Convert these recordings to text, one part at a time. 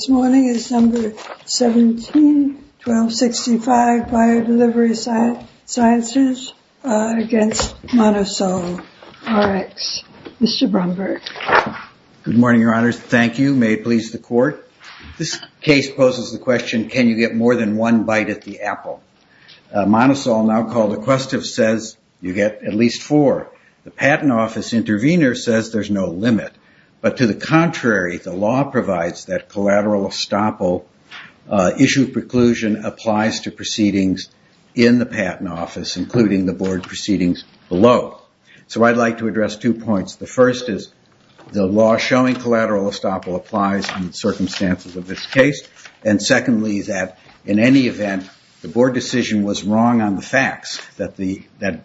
This morning is December 17, 1265, Biodelivery Sciences, against Monosol, Rx. Mr. Bromberg. Good morning, Your Honors. Thank you. May it please the Court. This case poses the question, can you get more than one bite at the apple? Monosol, now called Aquestive, says you get at least four. The Patent Office intervener says there's no limit. But to the contrary, the law provides that collateral estoppel issue preclusion applies to proceedings in the Patent Office, including the board proceedings below. So I'd like to address two points. The first is the law showing collateral estoppel applies in the circumstances of this case. And secondly, that in any event, the board decision was wrong on the facts, that BDSI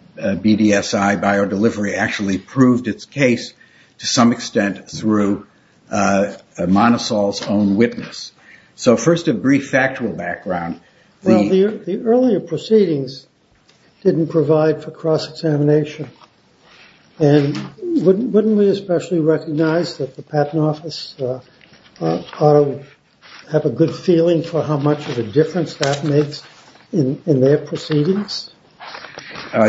Biodelivery actually proved its case to some extent through Monosol's own witness. So first, a brief factual background. The earlier proceedings didn't provide for cross-examination. And wouldn't we especially recognize that the Patent Office have a good feeling for how much of a difference that makes in their proceedings?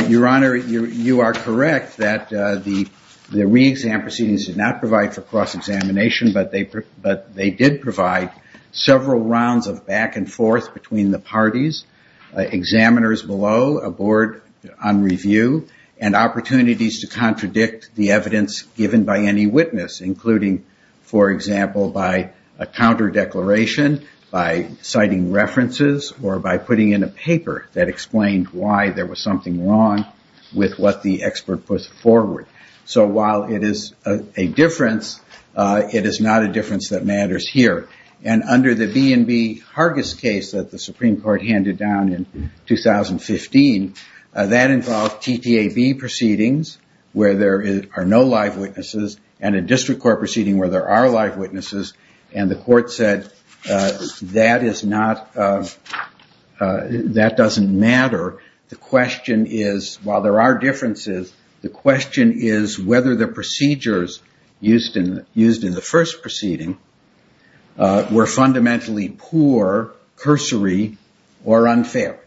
Your Honor, you are correct that the re-exam proceedings did not provide for cross-examination, but they did provide several rounds of back and forth between the parties, examiners below, a board on review, and opportunities to contradict the evidence given by any witness, including, for example, by a counter declaration, by citing references, or by putting in a paper that explained why there was something wrong with what the expert put forward. So while it is a difference, it is not a difference that matters here. And under the B&B Hargis case that the Supreme Court handed down in 2015, that involved TTAB proceedings where there are no live witnesses, and a district court proceeding where there are live witnesses, and the court said that is not, that doesn't matter. However, the question is, while there are differences, the question is whether the procedures used in the first proceeding were fundamentally poor, cursory, or unfair.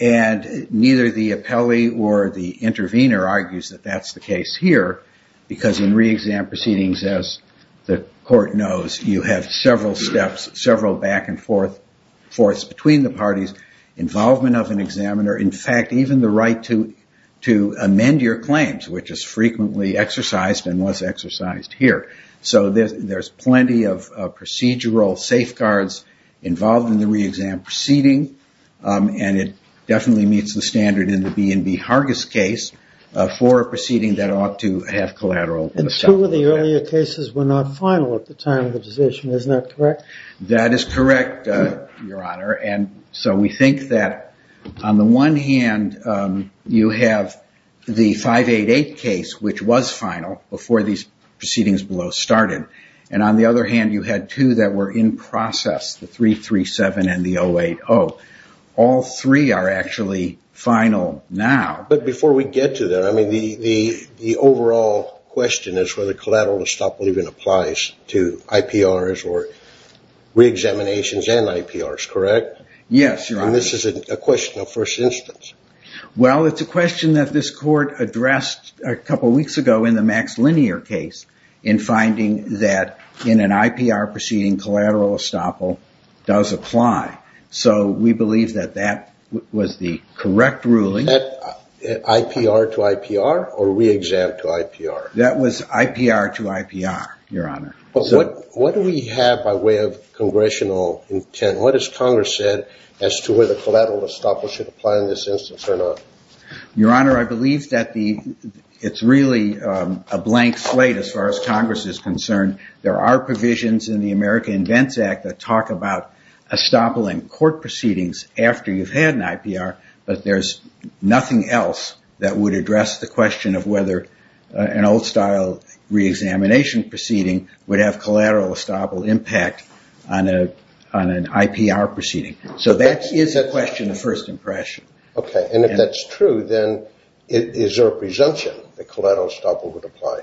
And neither the appellee or the intervener argues that that's the case here, because in re-exam proceedings, as the court knows, you have several steps, several back and forths between the parties, involvement of an examiner, in fact, even the right to amend your claims, which is frequently exercised and was exercised here. So there's plenty of procedural safeguards involved in the re-exam proceeding, and it definitely meets the standard in the B&B Hargis case for a proceeding that ought to have collateral. And two of the earlier cases were not final at the time of the decision. Isn't that correct? That is correct, Your Honor. And so we think that on the one hand, you have the 588 case, which was final before these proceedings below started. And on the other hand, you had two that were in process, the 337 and the 080. All three are actually final now. But before we get to that, I mean, the overall question is whether collateral estoppel even applies to IPRs or re-examinations and IPRs, correct? Yes, Your Honor. And this is a question of first instance. Well, it's a question that this court addressed a couple weeks ago in the Max Linear case in finding that in an IPR proceeding, collateral estoppel does apply. So we believe that that was the correct ruling. IPR to IPR or re-exam to IPR? That was IPR to IPR, Your Honor. But what do we have by way of congressional intent? What has Congress said as to whether collateral estoppel should apply in this instance or not? Your Honor, I believe that it's really a blank slate as far as Congress is concerned. There are provisions in the America Invents Act that talk about estoppel in court proceedings after you've had an IPR, but there's nothing else that would address the question of whether an old-style re-examination proceeding would have collateral estoppel impact on an IPR proceeding. So that is a question of first impression. Okay. And if that's true, then is there a presumption that collateral estoppel would apply?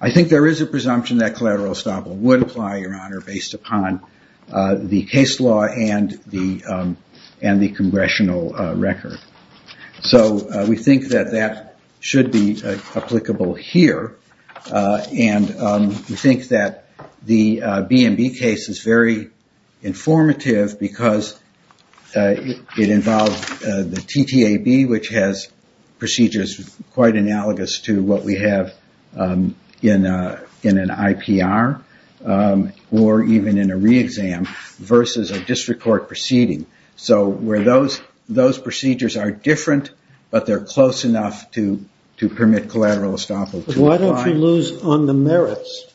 I think there is a presumption that collateral estoppel would apply, Your Honor, based upon the case law and the congressional record. So we think that that should be applicable here. And we think that the B&B case is very informative because it involves the TTAB, which has procedures quite analogous to what we have in an IPR or even in a re-exam versus a district court proceeding. So those procedures are different, but they're close enough to permit collateral estoppel. Why don't you lose on the merits?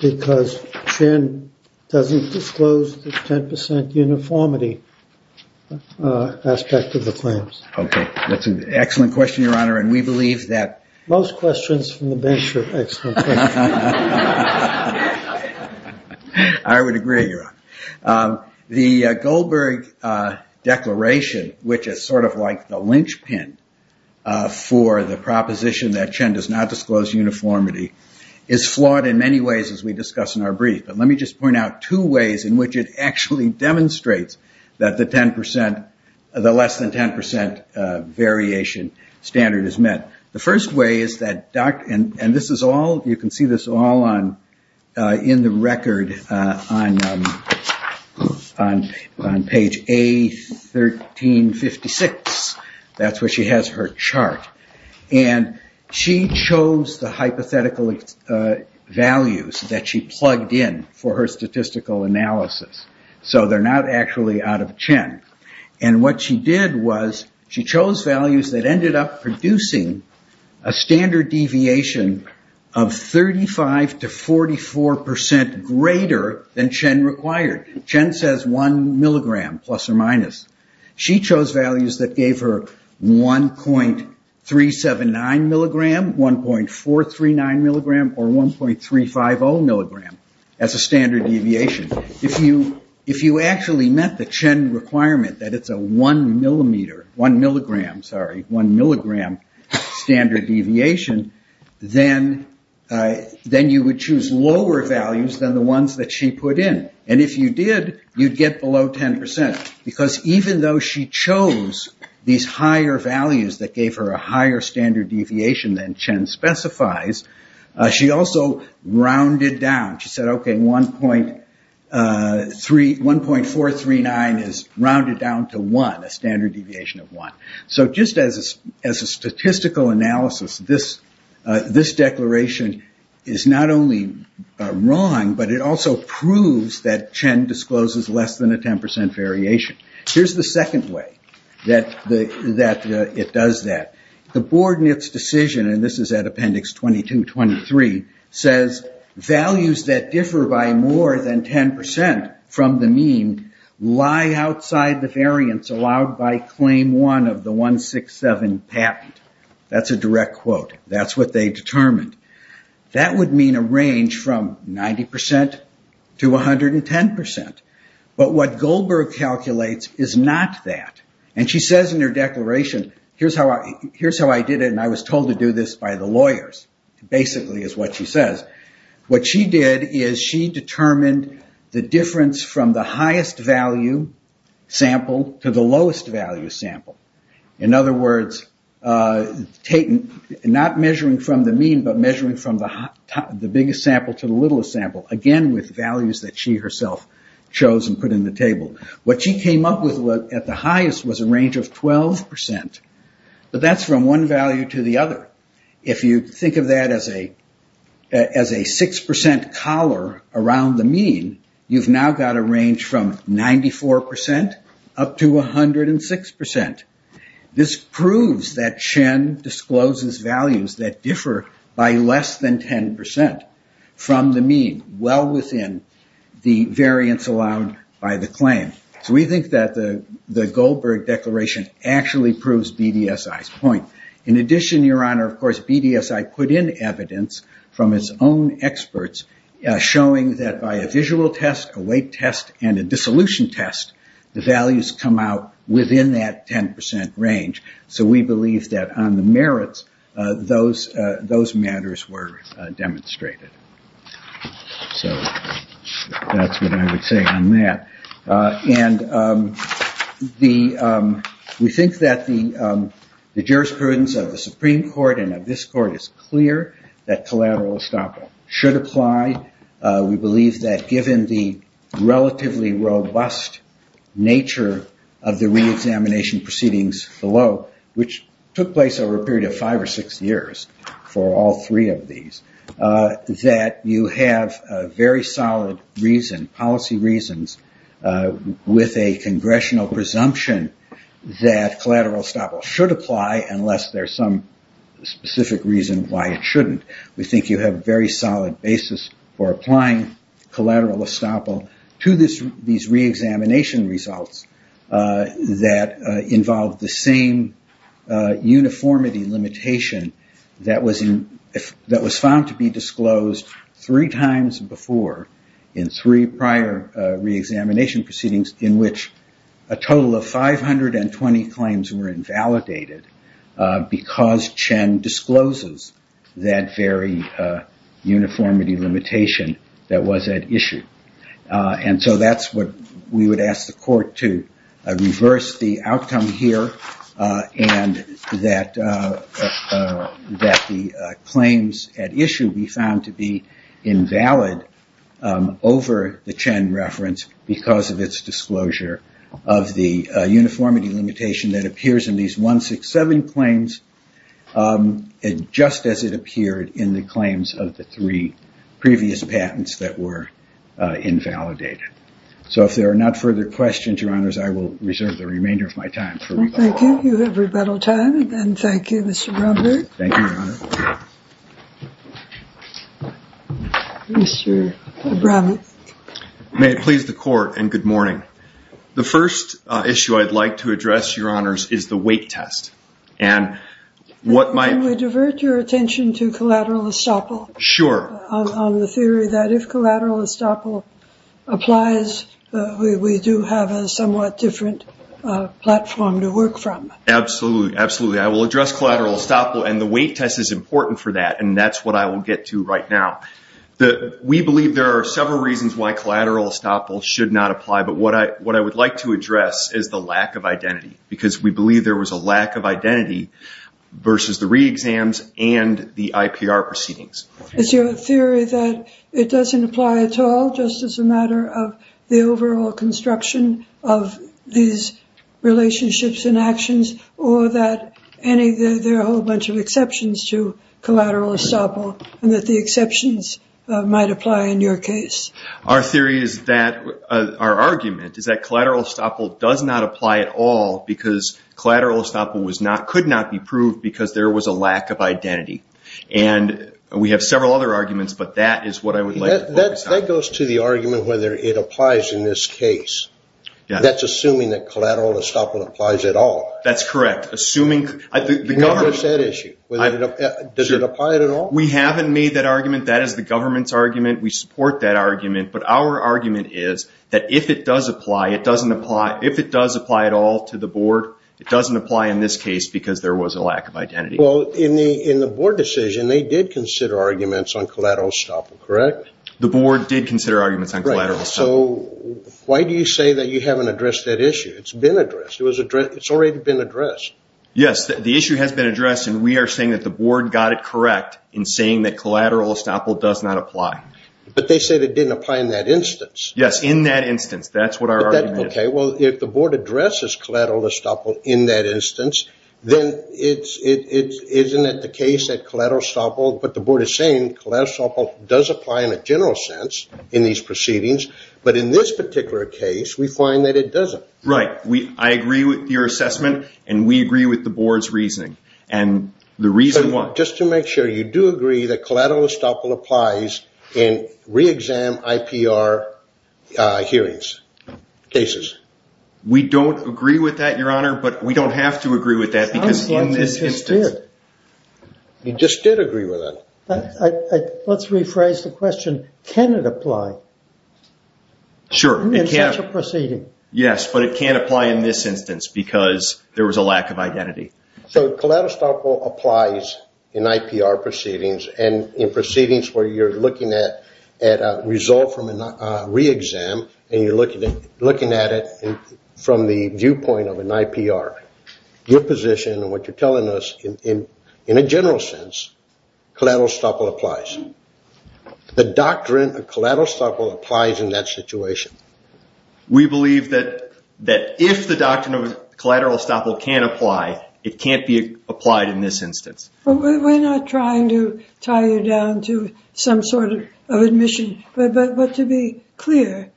Because Chen doesn't disclose the 10% uniformity aspect of the claims. Okay. That's an excellent question, Your Honor, and we believe that- Most questions from the bench are excellent questions. I would agree, Your Honor. The Goldberg Declaration, which is sort of like the linchpin for the proposition that Chen does not disclose uniformity, is flawed in many ways as we discuss in our brief. But let me just point out two ways in which it actually demonstrates that the less than 10% variation standard is met. The first way is that, and you can see this all in the record on page A1356. That's where she has her chart. And she chose the hypothetical values that she plugged in for her statistical analysis. So they're not actually out of Chen. And what she did was she chose values that ended up producing a standard deviation of 35 to 44% greater than Chen required. Chen says 1 milligram, plus or minus. She chose values that gave her 1.379 milligram, 1.439 milligram, or 1.350 milligram as a standard deviation. If you actually met the Chen requirement that it's a 1 milligram standard deviation, then you would choose lower values than the ones that she put in. And if you did, you'd get below 10%. Because even though she chose these higher values that gave her a higher standard deviation than Chen specifies, she also rounded down. She said, okay, 1.439 is rounded down to 1, a standard deviation of 1. So just as a statistical analysis, this declaration is not only wrong, but it also proves that Chen discloses less than a 10% variation. Here's the second way that it does that. The board in its decision, and this is at appendix 22-23, says values that differ by more than 10% from the mean lie outside the variance allowed by claim one of the 167 patent. That's a direct quote. That's what they determined. That would mean a range from 90% to 110%. But what Goldberg calculates is not that. She says in her declaration, here's how I did it, and I was told to do this by the lawyers, basically is what she says. What she did is she determined the difference from the highest value sample to the lowest value sample. In other words, not measuring from the mean, but measuring from the biggest sample to the littlest sample, again with values that she herself chose and put in the table. What she came up with at the highest was a range of 12%. But that's from one value to the other. If you think of that as a 6% collar around the mean, you've now got a range from 94% up to 106%. This proves that Chen discloses values that differ by less than 10% from the mean, well within the variance allowed by the claim. So we think that the Goldberg declaration actually proves BDSI's point. In addition, Your Honor, of course, BDSI put in evidence from its own experts showing that by a visual test, a weight test, and a dissolution test, the values come out within that 10% range. So we believe that on the merits, those matters were demonstrated. So that's what I would say on that. And we think that the jurisprudence of the Supreme Court and of this Court is clear that collateral estoppel should apply. We believe that given the relatively robust nature of the reexamination proceedings below, which took place over a period of five or six years for all three of these, that you have a very solid reason, policy reasons, with a congressional presumption that collateral estoppel should apply unless there's some specific reason why it shouldn't. We think you have a very solid basis for applying collateral estoppel to these reexamination results that involve the same uniformity limitation that was found to be disclosed three times before in three prior reexamination proceedings in which a total of 520 claims were invalidated because Chen discloses that very uniformity limitation that was at issue. And so that's what we would ask the Court to reverse the outcome here and that the claims at issue be found to be invalid over the Chen reference because of its disclosure of the uniformity limitation that appears in these 167 claims, just as it appeared in the claims of the three previous patents that were invalidated. So if there are not further questions, Your Honors, I will reserve the remainder of my time for rebuttal. Thank you. You have rebuttal time. And thank you, Mr. Bromberg. Thank you, Your Honor. Mr. Bromberg. May it please the Court, and good morning. The first issue I'd like to address, Your Honors, is the weight test. Can we divert your attention to collateral estoppel? Sure. On the theory that if collateral estoppel applies, we do have a somewhat different platform to work from. Absolutely. Absolutely. I will address collateral estoppel, and the weight test is important for that, and that's what I will get to right now. We believe there are several reasons why collateral estoppel should not apply, but what I would like to address is the lack of identity, because we believe there was a lack of identity versus the reexams and the IPR proceedings. Is your theory that it doesn't apply at all, just as a matter of the overall construction of these relationships and actions, or that there are a whole bunch of exceptions to collateral estoppel and that the exceptions might apply in your case? Our argument is that collateral estoppel does not apply at all because collateral estoppel could not be proved because there was a lack of identity. And we have several other arguments, but that is what I would like to focus on. That goes to the argument whether it applies in this case. Yes. That's assuming that collateral estoppel applies at all. That's correct. Can you address that issue? Does it apply at all? We haven't made that argument. That is the government's argument. We support that argument. But our argument is that if it does apply at all to the board, it doesn't apply in this case because there was a lack of identity. In the board decision, they did consider arguments on collateral estoppel, correct? The board did consider arguments on collateral estoppel. So why do you say that you haven't addressed that issue? It's been addressed. It's already been addressed. Yes. The issue has been addressed, and we are saying that the board got it correct in saying that collateral estoppel does not apply. But they said it didn't apply in that instance. Yes, in that instance. That's what our argument is. Okay. Well, if the board addresses collateral estoppel in that instance, then isn't it the case that collateral estoppel – But in this particular case, we find that it doesn't. Right. I agree with your assessment, and we agree with the board's reasoning. And the reason why – Just to make sure, you do agree that collateral estoppel applies in re-exam IPR hearings, cases? We don't agree with that, Your Honor, but we don't have to agree with that because in this instance – Sounds like you just did. You just did agree with that. Let's rephrase the question. Can it apply? Sure. In such a proceeding? Yes, but it can't apply in this instance because there was a lack of identity. So collateral estoppel applies in IPR proceedings and in proceedings where you're looking at a result from a re-exam, and you're looking at it from the viewpoint of an IPR. Your position and what you're telling us, in a general sense, collateral estoppel applies. The doctrine of collateral estoppel applies in that situation. We believe that if the doctrine of collateral estoppel can apply, it can't be applied in this instance. We're not trying to tie you down to some sort of admission, but to be clear,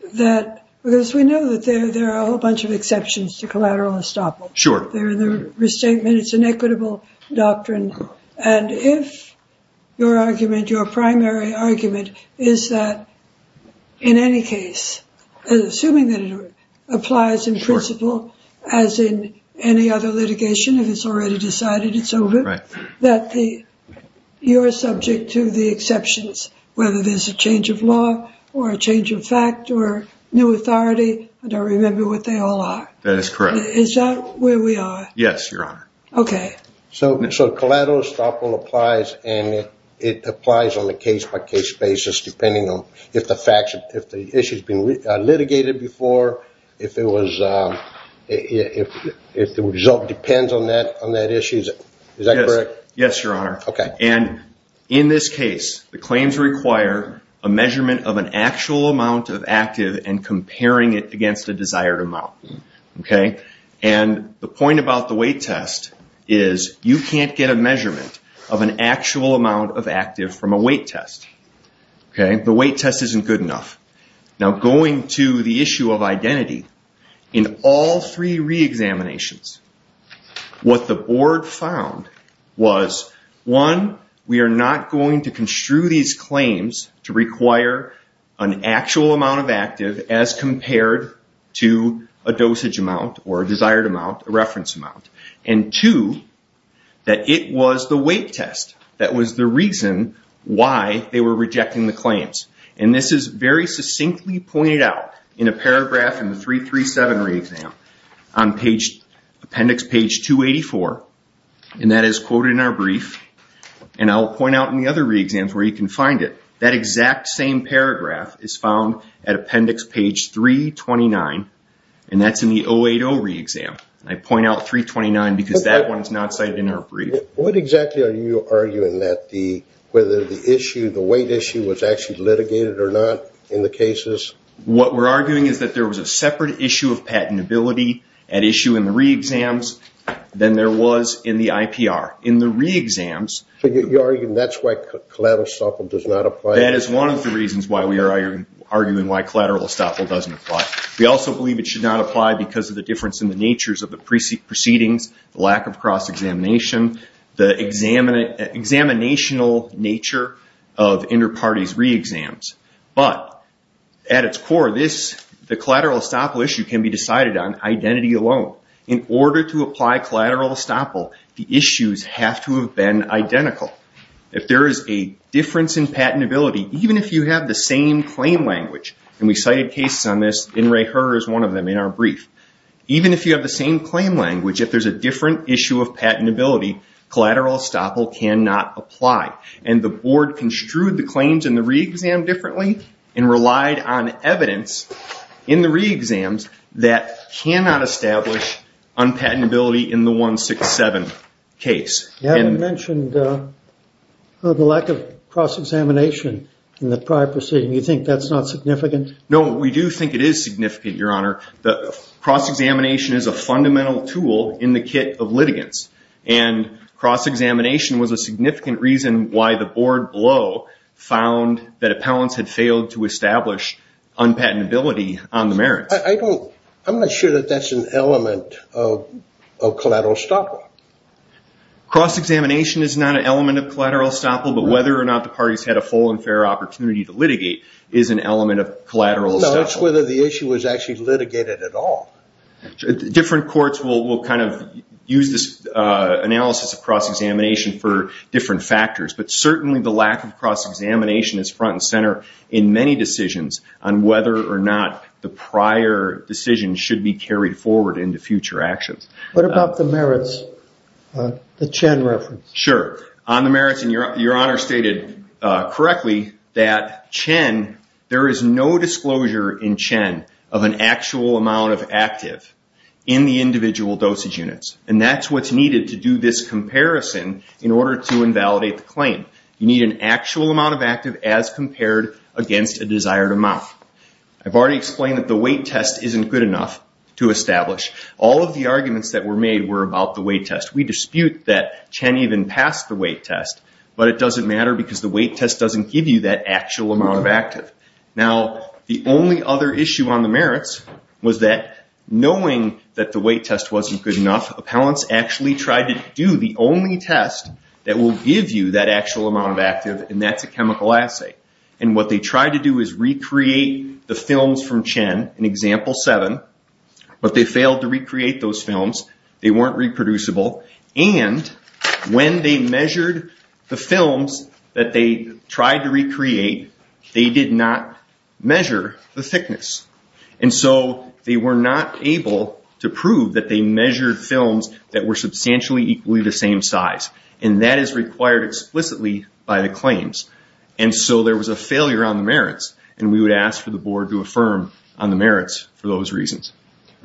because we know that there are a whole bunch of exceptions to collateral estoppel. Sure. They're in the restatement. It's an equitable doctrine. And if your argument, your primary argument, is that in any case, assuming that it applies in principle as in any other litigation, if it's already decided it's over, that you're subject to the exceptions, whether there's a change of law or a change of fact or new authority. I don't remember what they all are. That is correct. Is that where we are? Yes, Your Honor. Okay. So collateral estoppel applies, and it applies on a case-by-case basis, depending on if the issue's been litigated before, if the result depends on that issue. Is that correct? Yes, Your Honor. Okay. And in this case, the claims require a measurement of an actual amount of active and comparing it against a desired amount. Okay? And the point about the weight test is you can't get a measurement of an actual amount of active from a weight test. Okay? The weight test isn't good enough. Now, going to the issue of identity, in all three reexaminations, what the board found was, one, we are not going to construe these claims to require an actual amount of active as compared to a dosage amount or a desired amount, a reference amount, and, two, that it was the weight test that was the reason why they were rejecting the claims. And this is very succinctly pointed out in a paragraph in the 337 reexam on appendix page 284, and that is quoted in our brief, and I'll point out in the other reexams where you can find it. That exact same paragraph is found at appendix page 329, and that's in the 080 reexam. I point out 329 because that one is not cited in our brief. What exactly are you arguing, whether the weight issue was actually litigated or not in the cases? What we're arguing is that there was a separate issue of patentability at issue in the reexams than there was in the IPR. In the reexams- So you're arguing that's why collateral estoppel does not apply? That is one of the reasons why we are arguing why collateral estoppel doesn't apply. We also believe it should not apply because of the difference in the natures of the proceedings, the lack of cross-examination, the examinational nature of inter-parties reexams. But at its core, the collateral estoppel issue can be decided on identity alone. In order to apply collateral estoppel, the issues have to have been identical. If there is a difference in patentability, even if you have the same claim language, and we cited cases on this, and Ray Herr is one of them in our brief. Even if you have the same claim language, if there's a different issue of patentability, collateral estoppel cannot apply. And the board construed the claims in the reexam differently and relied on evidence in the reexams that cannot establish unpatentability in the 167 case. You haven't mentioned the lack of cross-examination in the prior proceeding. You think that's not significant? No, we do think it is significant, Your Honor. Cross-examination is a fundamental tool in the kit of litigants, and cross-examination was a significant reason why the board below found that appellants had failed to establish unpatentability on the merits. I'm not sure that that's an element of collateral estoppel. Cross-examination is not an element of collateral estoppel, but whether or not the parties had a full and fair opportunity to litigate is an element of collateral estoppel. Well, no, it's whether the issue was actually litigated at all. Different courts will kind of use this analysis of cross-examination for different factors, but certainly the lack of cross-examination is front and center in many decisions on whether or not the prior decision should be carried forward into future actions. What about the merits, the Chen reference? Sure. On the merits, and Your Honor stated correctly, that Chen, there is no disclosure in Chen of an actual amount of active in the individual dosage units, and that's what's needed to do this comparison in order to invalidate the claim. You need an actual amount of active as compared against a desired amount. I've already explained that the weight test isn't good enough to establish. All of the arguments that were made were about the weight test. We dispute that Chen even passed the weight test, but it doesn't matter because the weight test doesn't give you that actual amount of active. Now, the only other issue on the merits was that knowing that the weight test wasn't good enough, appellants actually tried to do the only test that will give you that actual amount of active, and that's a chemical assay. And what they tried to do is recreate the films from Chen in Example 7, but they failed to recreate those films. They weren't reproducible. And when they measured the films that they tried to recreate, they did not measure the thickness. And so they were not able to prove that they measured films that were substantially equally the same size, and that is required explicitly by the claims. And so there was a failure on the merits, and we would ask for the Board to affirm on the merits for those reasons.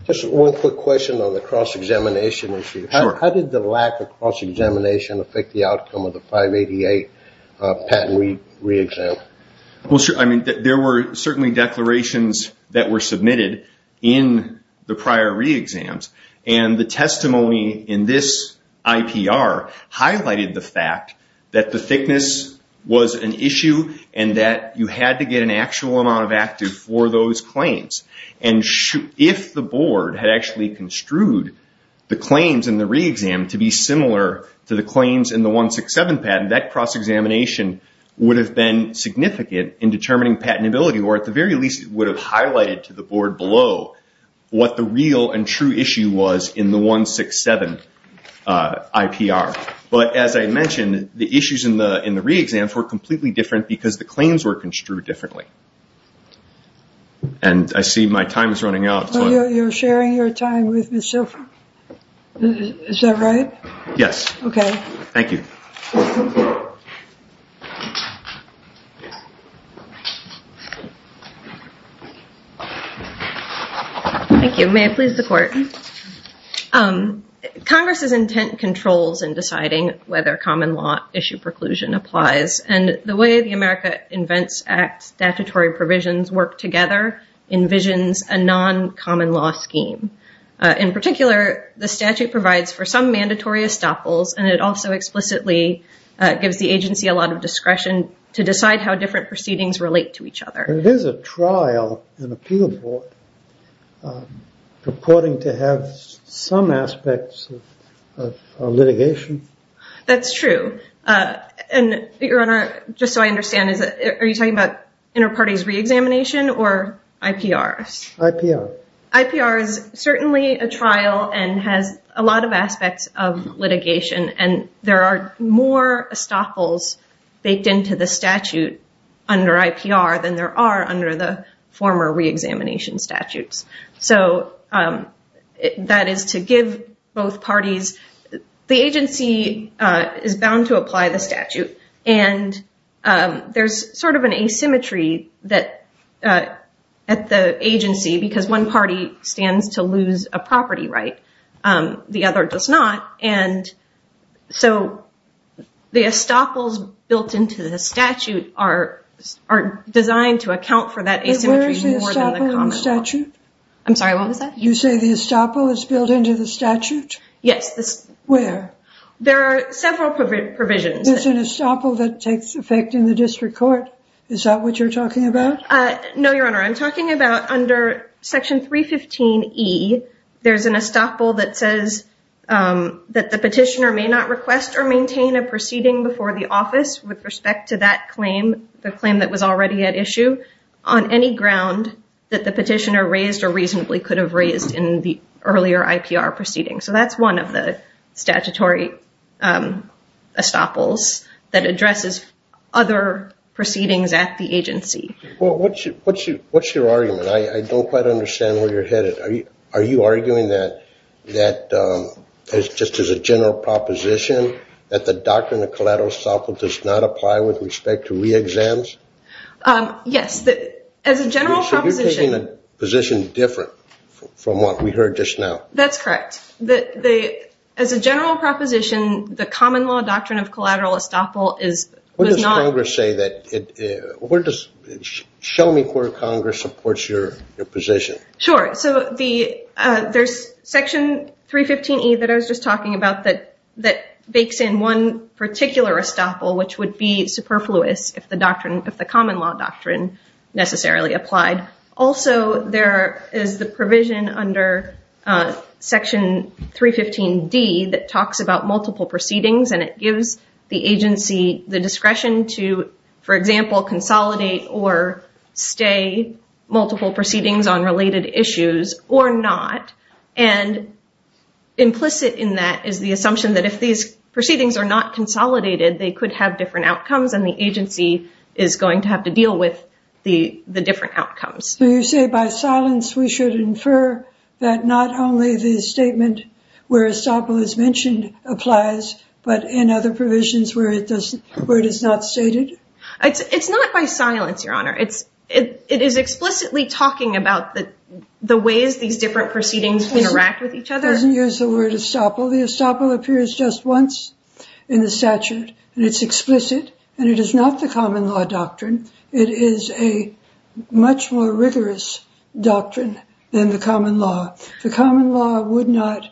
Just one quick question on the cross-examination issue. How did the lack of cross-examination affect the outcome of the 588 patent re-exam? There were certainly declarations that were submitted in the prior re-exams, and the testimony in this IPR highlighted the fact that the thickness was an issue and that you had to get an actual amount of active for those claims. And if the Board had actually construed the claims in the re-exam to be similar to the claims in the 167 patent, that cross-examination would have been significant in determining patentability, or at the very least it would have highlighted to the Board below what the real and true issue was in the 167 IPR. But as I mentioned, the issues in the re-exams were completely different because the claims were construed differently. And I see my time is running out. You're sharing your time with me still? Is that right? Yes. Okay. Thank you. Thank you. May I please the Court? Congress's intent controls in deciding whether common law issue preclusion applies, and the way the America Invents Act statutory provisions work together envisions a non-common law scheme. In particular, the statute provides for some mandatory estoppels, and it also explicitly gives the agency a lot of discretion to decide how different proceedings relate to each other. But it is a trial, an appeal court, purporting to have some aspects of litigation. That's true. And, Your Honor, just so I understand, are you talking about inter-parties re-examination or IPR? IPR. IPR is certainly a trial and has a lot of aspects of litigation, and there are more estoppels baked into the statute under IPR than there are under the former re-examination statutes. So that is to give both parties. The agency is bound to apply the statute, and there's sort of an asymmetry at the agency because one party stands to lose a property right, the other does not. And so the estoppels built into the statute are designed to account for that asymmetry more than the common law. But where is the estoppel in the statute? I'm sorry, what was that? You say the estoppel is built into the statute? Yes. Where? There are several provisions. There's an estoppel that takes effect in the district court. Is that what you're talking about? No, Your Honor. I'm talking about under Section 315E, there's an estoppel that says that the petitioner may not request or maintain a proceeding before the office with respect to that claim, the claim that was already at issue, on any ground that the petitioner raised or reasonably could have raised in the earlier IPR proceeding. So that's one of the statutory estoppels that addresses other proceedings at the agency. Well, what's your argument? I don't quite understand where you're headed. Are you arguing that just as a general proposition that the doctrine of collateral estoppel does not apply with respect to re-exams? Yes, as a general proposition. You're taking a position different from what we heard just now. That's correct. As a general proposition, the common law doctrine of collateral estoppel is not- What does Congress say that- where does- show me where Congress supports your position. Sure. So there's Section 315E that I was just talking about that bakes in one particular estoppel, which would be superfluous if the common law doctrine necessarily applied. Also, there is the provision under Section 315D that talks about multiple proceedings, and it gives the agency the discretion to, for example, consolidate or stay multiple proceedings on related issues or not. And implicit in that is the assumption that if these proceedings are not consolidated, they could have different outcomes, and the agency is going to have to deal with the different outcomes. So you say by silence we should infer that not only the statement where estoppel is mentioned applies, but in other provisions where it is not stated? It's not by silence, Your Honor. It is explicitly talking about the ways these different proceedings interact with each other. It doesn't use the word estoppel. The estoppel appears just once in the statute, and it's explicit, and it is not the common law doctrine. It is a much more rigorous doctrine than the common law. The common law would not,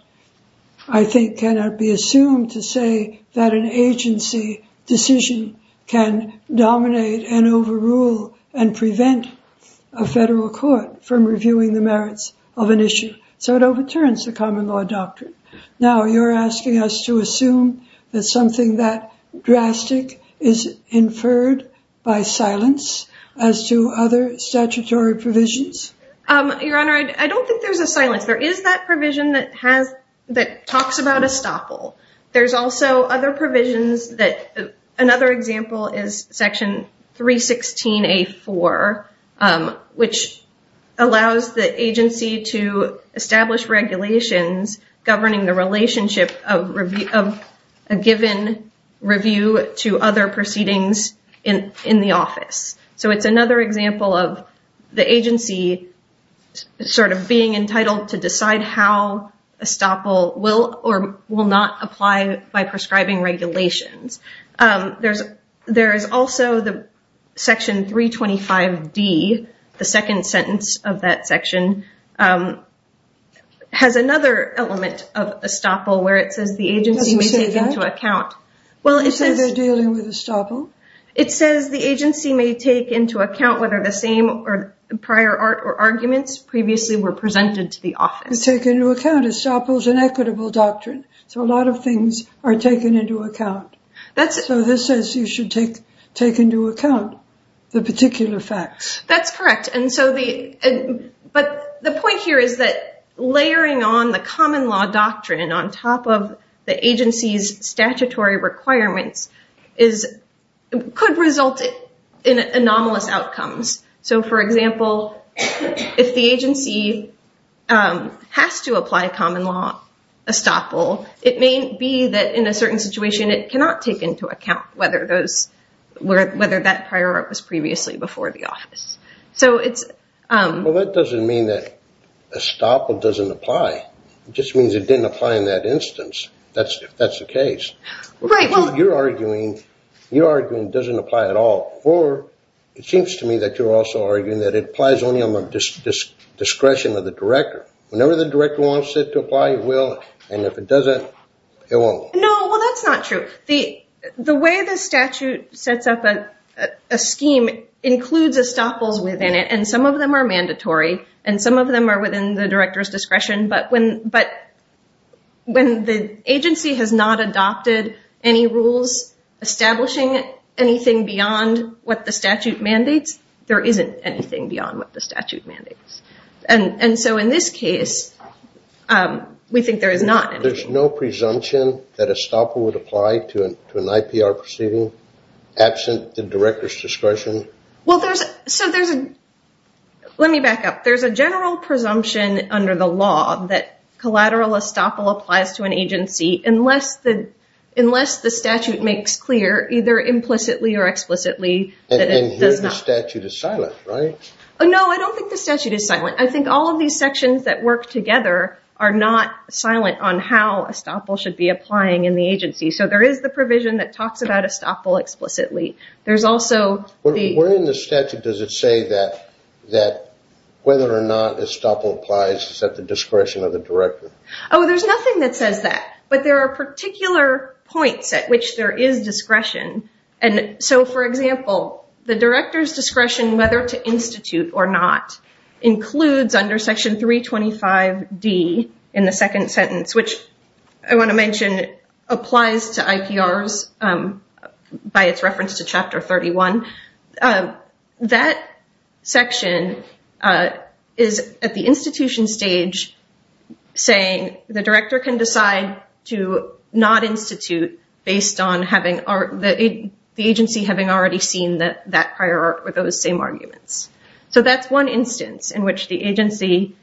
I think, cannot be assumed to say that an agency decision can dominate and overrule and prevent a federal court from reviewing the merits of an issue. So it overturns the common law doctrine. Now, you're asking us to assume that something that drastic is inferred by silence as to other statutory provisions? Your Honor, I don't think there's a silence. There is that provision that talks about estoppel. There's also other provisions that another example is Section 316A4, which allows the agency to establish regulations governing the relationship of a given review to other proceedings in the office. So it's another example of the agency sort of being entitled to decide how estoppel will or will not apply by prescribing regulations. There is also the Section 325D, the second sentence of that section, has another element of estoppel where it says the agency may take into account... Does it say that? Well, it says... Does it say they're dealing with estoppel? It says the agency may take into account whether the same prior art or arguments previously were presented to the office. Take into account estoppel is an equitable doctrine, so a lot of things are taken into account. So this says you should take into account the particular facts. That's correct. But the point here is that layering on the common law doctrine on top of the agency's statutory requirements could result in anomalous outcomes. So, for example, if the agency has to apply common law estoppel, it may be that in a certain situation it cannot take into account whether that prior art was previously before the office. Well, that doesn't mean that estoppel doesn't apply. It just means it didn't apply in that instance, if that's the case. Right, well... You're arguing it doesn't apply at all, or it seems to me that you're also arguing that it applies only on the discretion of the director. Whenever the director wants it to apply, it will, and if it doesn't, it won't. No, well, that's not true. The way the statute sets up a scheme includes estoppels within it, and some of them are mandatory, and some of them are within the director's discretion, but when the agency has not adopted any rules establishing anything beyond what the statute mandates, there isn't anything beyond what the statute mandates. And so in this case, we think there is not. There's no presumption that estoppel would apply to an IPR proceeding absent the director's discretion? Well, there's a general presumption under the law that collateral estoppel applies to an agency unless the statute makes clear, either implicitly or explicitly, that it does not. And here the statute is silent, right? No, I don't think the statute is silent. I think all of these sections that work together are not silent on how estoppel should be applying in the agency. So there is the provision that talks about estoppel explicitly. Where in the statute does it say that whether or not estoppel applies is at the discretion of the director? Oh, there's nothing that says that, but there are particular points at which there is discretion. And so, for example, the director's discretion whether to institute or not includes under Section 325D in the second sentence, which I want to mention applies to IPRs by its reference to Chapter 31. That section is at the institution stage saying the director can decide to not institute based on the agency having already seen that prior art with those same arguments. So that's one instance in which the agency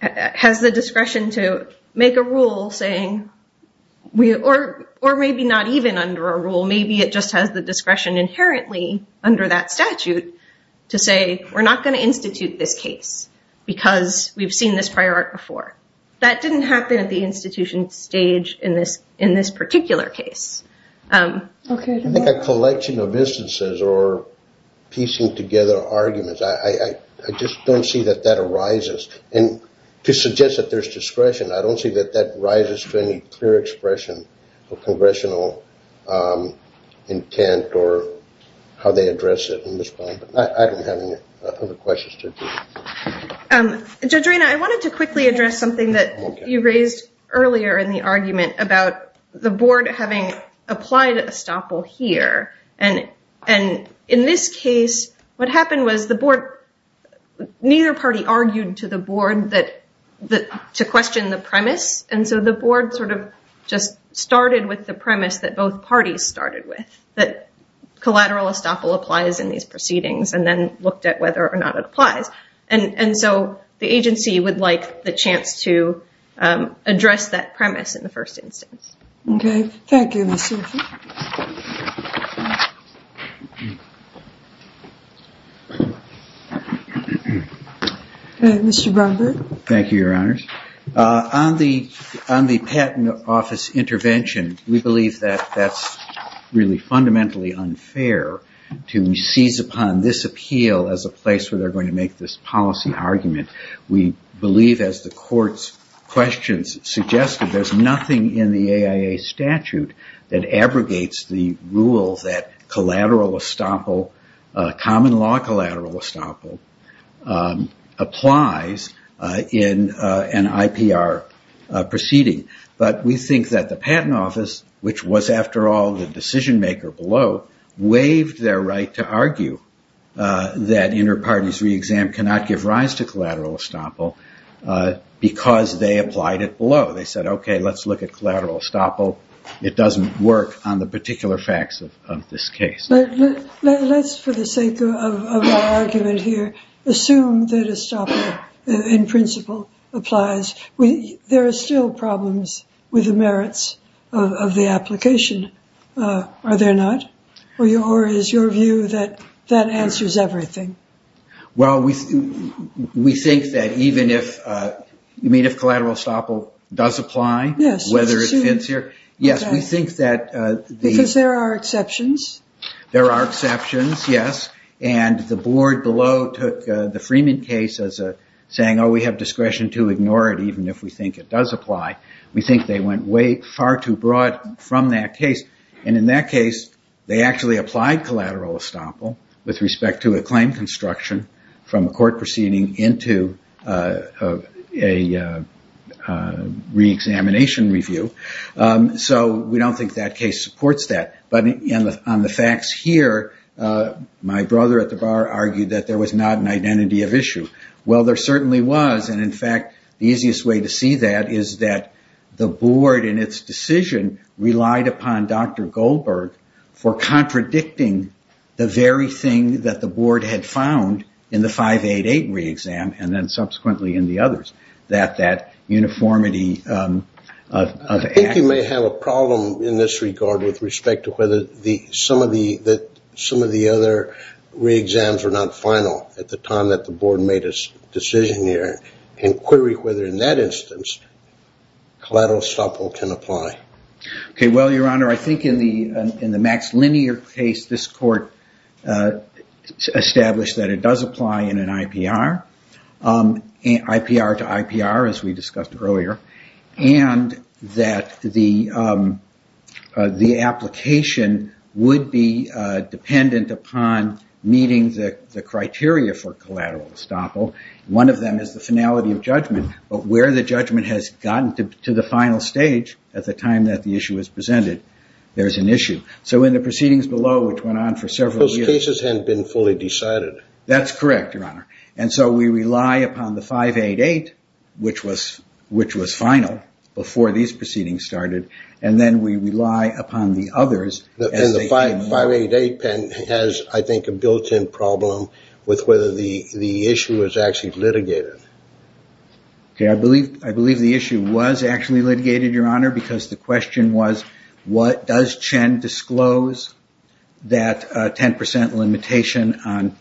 has the discretion to make a rule saying, or maybe not even under a rule, maybe it just has the discretion inherently under that statute to say, we're not going to institute this case because we've seen this prior art before. That didn't happen at the institution stage in this particular case. I think a collection of instances or piecing together arguments, I just don't see that that arises. And to suggest that there's discretion, I don't see that that rises to any clear expression of congressional intent or how they address it in this point. I don't have any other questions to address. Jodorina, I wanted to quickly address something that you raised earlier in the argument about the board having applied estoppel here. In this case, what happened was the board, neither party argued to the board to question the premise. And so the board sort of just started with the premise that both parties started with, that collateral estoppel applies in these proceedings and then looked at whether or not it applies. And so the agency would like the chance to address that premise in the first instance. Okay. Thank you, Mr. Rutherford. Mr. Bromberg. Thank you, Your Honors. On the patent office intervention, we believe that that's really fundamentally unfair to seize upon this appeal as a place where they're going to make this policy argument. We believe, as the court's questions suggested, there's nothing in the AIA statute that abrogates the rule that collateral estoppel, common law collateral estoppel, applies in an IPR proceeding. But we think that the patent office, which was, after all, the decision maker below, waived their right to argue that inter-parties re-exam cannot give rise to collateral estoppel because they applied it below. They said, okay, let's look at collateral estoppel. It doesn't work on the particular facts of this case. Let's, for the sake of our argument here, assume that estoppel, in principle, applies. There are still problems with the merits of the application, are there not? Or is your view that that answers everything? Well, we think that even if collateral estoppel does apply, whether it fits here. Yes, we think that the... Because there are exceptions. There are exceptions, yes. And the board below took the Freeman case as saying, oh, we have discretion to ignore it even if we think it does apply. We think they went far too broad from that case. And in that case, they actually applied collateral estoppel with respect to a claim construction from a court proceeding into a re-examination review. So we don't think that case supports that. But on the facts here, my brother at the bar argued that there was not an identity of issue. Well, there certainly was. And in fact, the easiest way to see that is that the board in its decision relied upon Dr. Goldberg for contradicting the very thing that the board had found in the 588 re-exam and then subsequently in the others. That that uniformity of... Some of the other re-exams were not final at the time that the board made its decision here. And query whether in that instance collateral estoppel can apply. Okay, well, Your Honor, I think in the Max Linear case, this court established that it does apply in an IPR. IPR to IPR, as we discussed earlier. And that the application would be dependent upon meeting the criteria for collateral estoppel. One of them is the finality of judgment. But where the judgment has gotten to the final stage at the time that the issue is presented, there's an issue. So in the proceedings below, which went on for several years... Those cases hadn't been fully decided. That's correct, Your Honor. And so we rely upon the 588, which was final, before these proceedings started. And then we rely upon the others... And the 588 has, I think, a built-in problem with whether the issue was actually litigated. Okay, I believe the issue was actually litigated, Your Honor, because the question was, does Chen disclose that 10% limitation on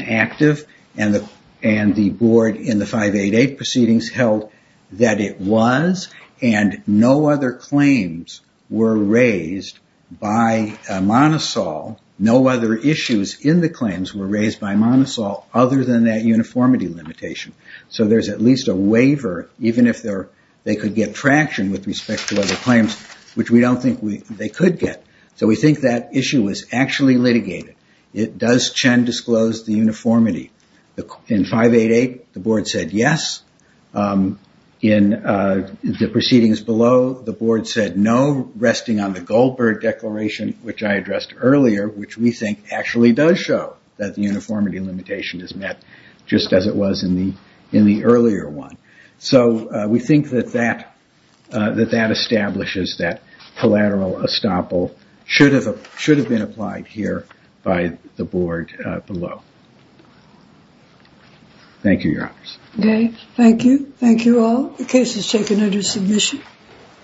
active? And the board in the 588 proceedings held that it was, and no other claims were raised by Monosol. No other issues in the claims were raised by Monosol other than that uniformity limitation. So there's at least a waiver, even if they could get traction with respect to other claims, which we don't think they could get. So we think that issue was actually litigated. It does... Chen disclosed the uniformity. In 588, the board said yes. In the proceedings below, the board said no, resting on the Goldberg Declaration, which I addressed earlier, which we think actually does show that the uniformity limitation is met, just as it was in the earlier one. So we think that that establishes that collateral estoppel should have been applied here by the board below. Thank you, Your Honors. Okay, thank you. Thank you all. The case is taken under submission.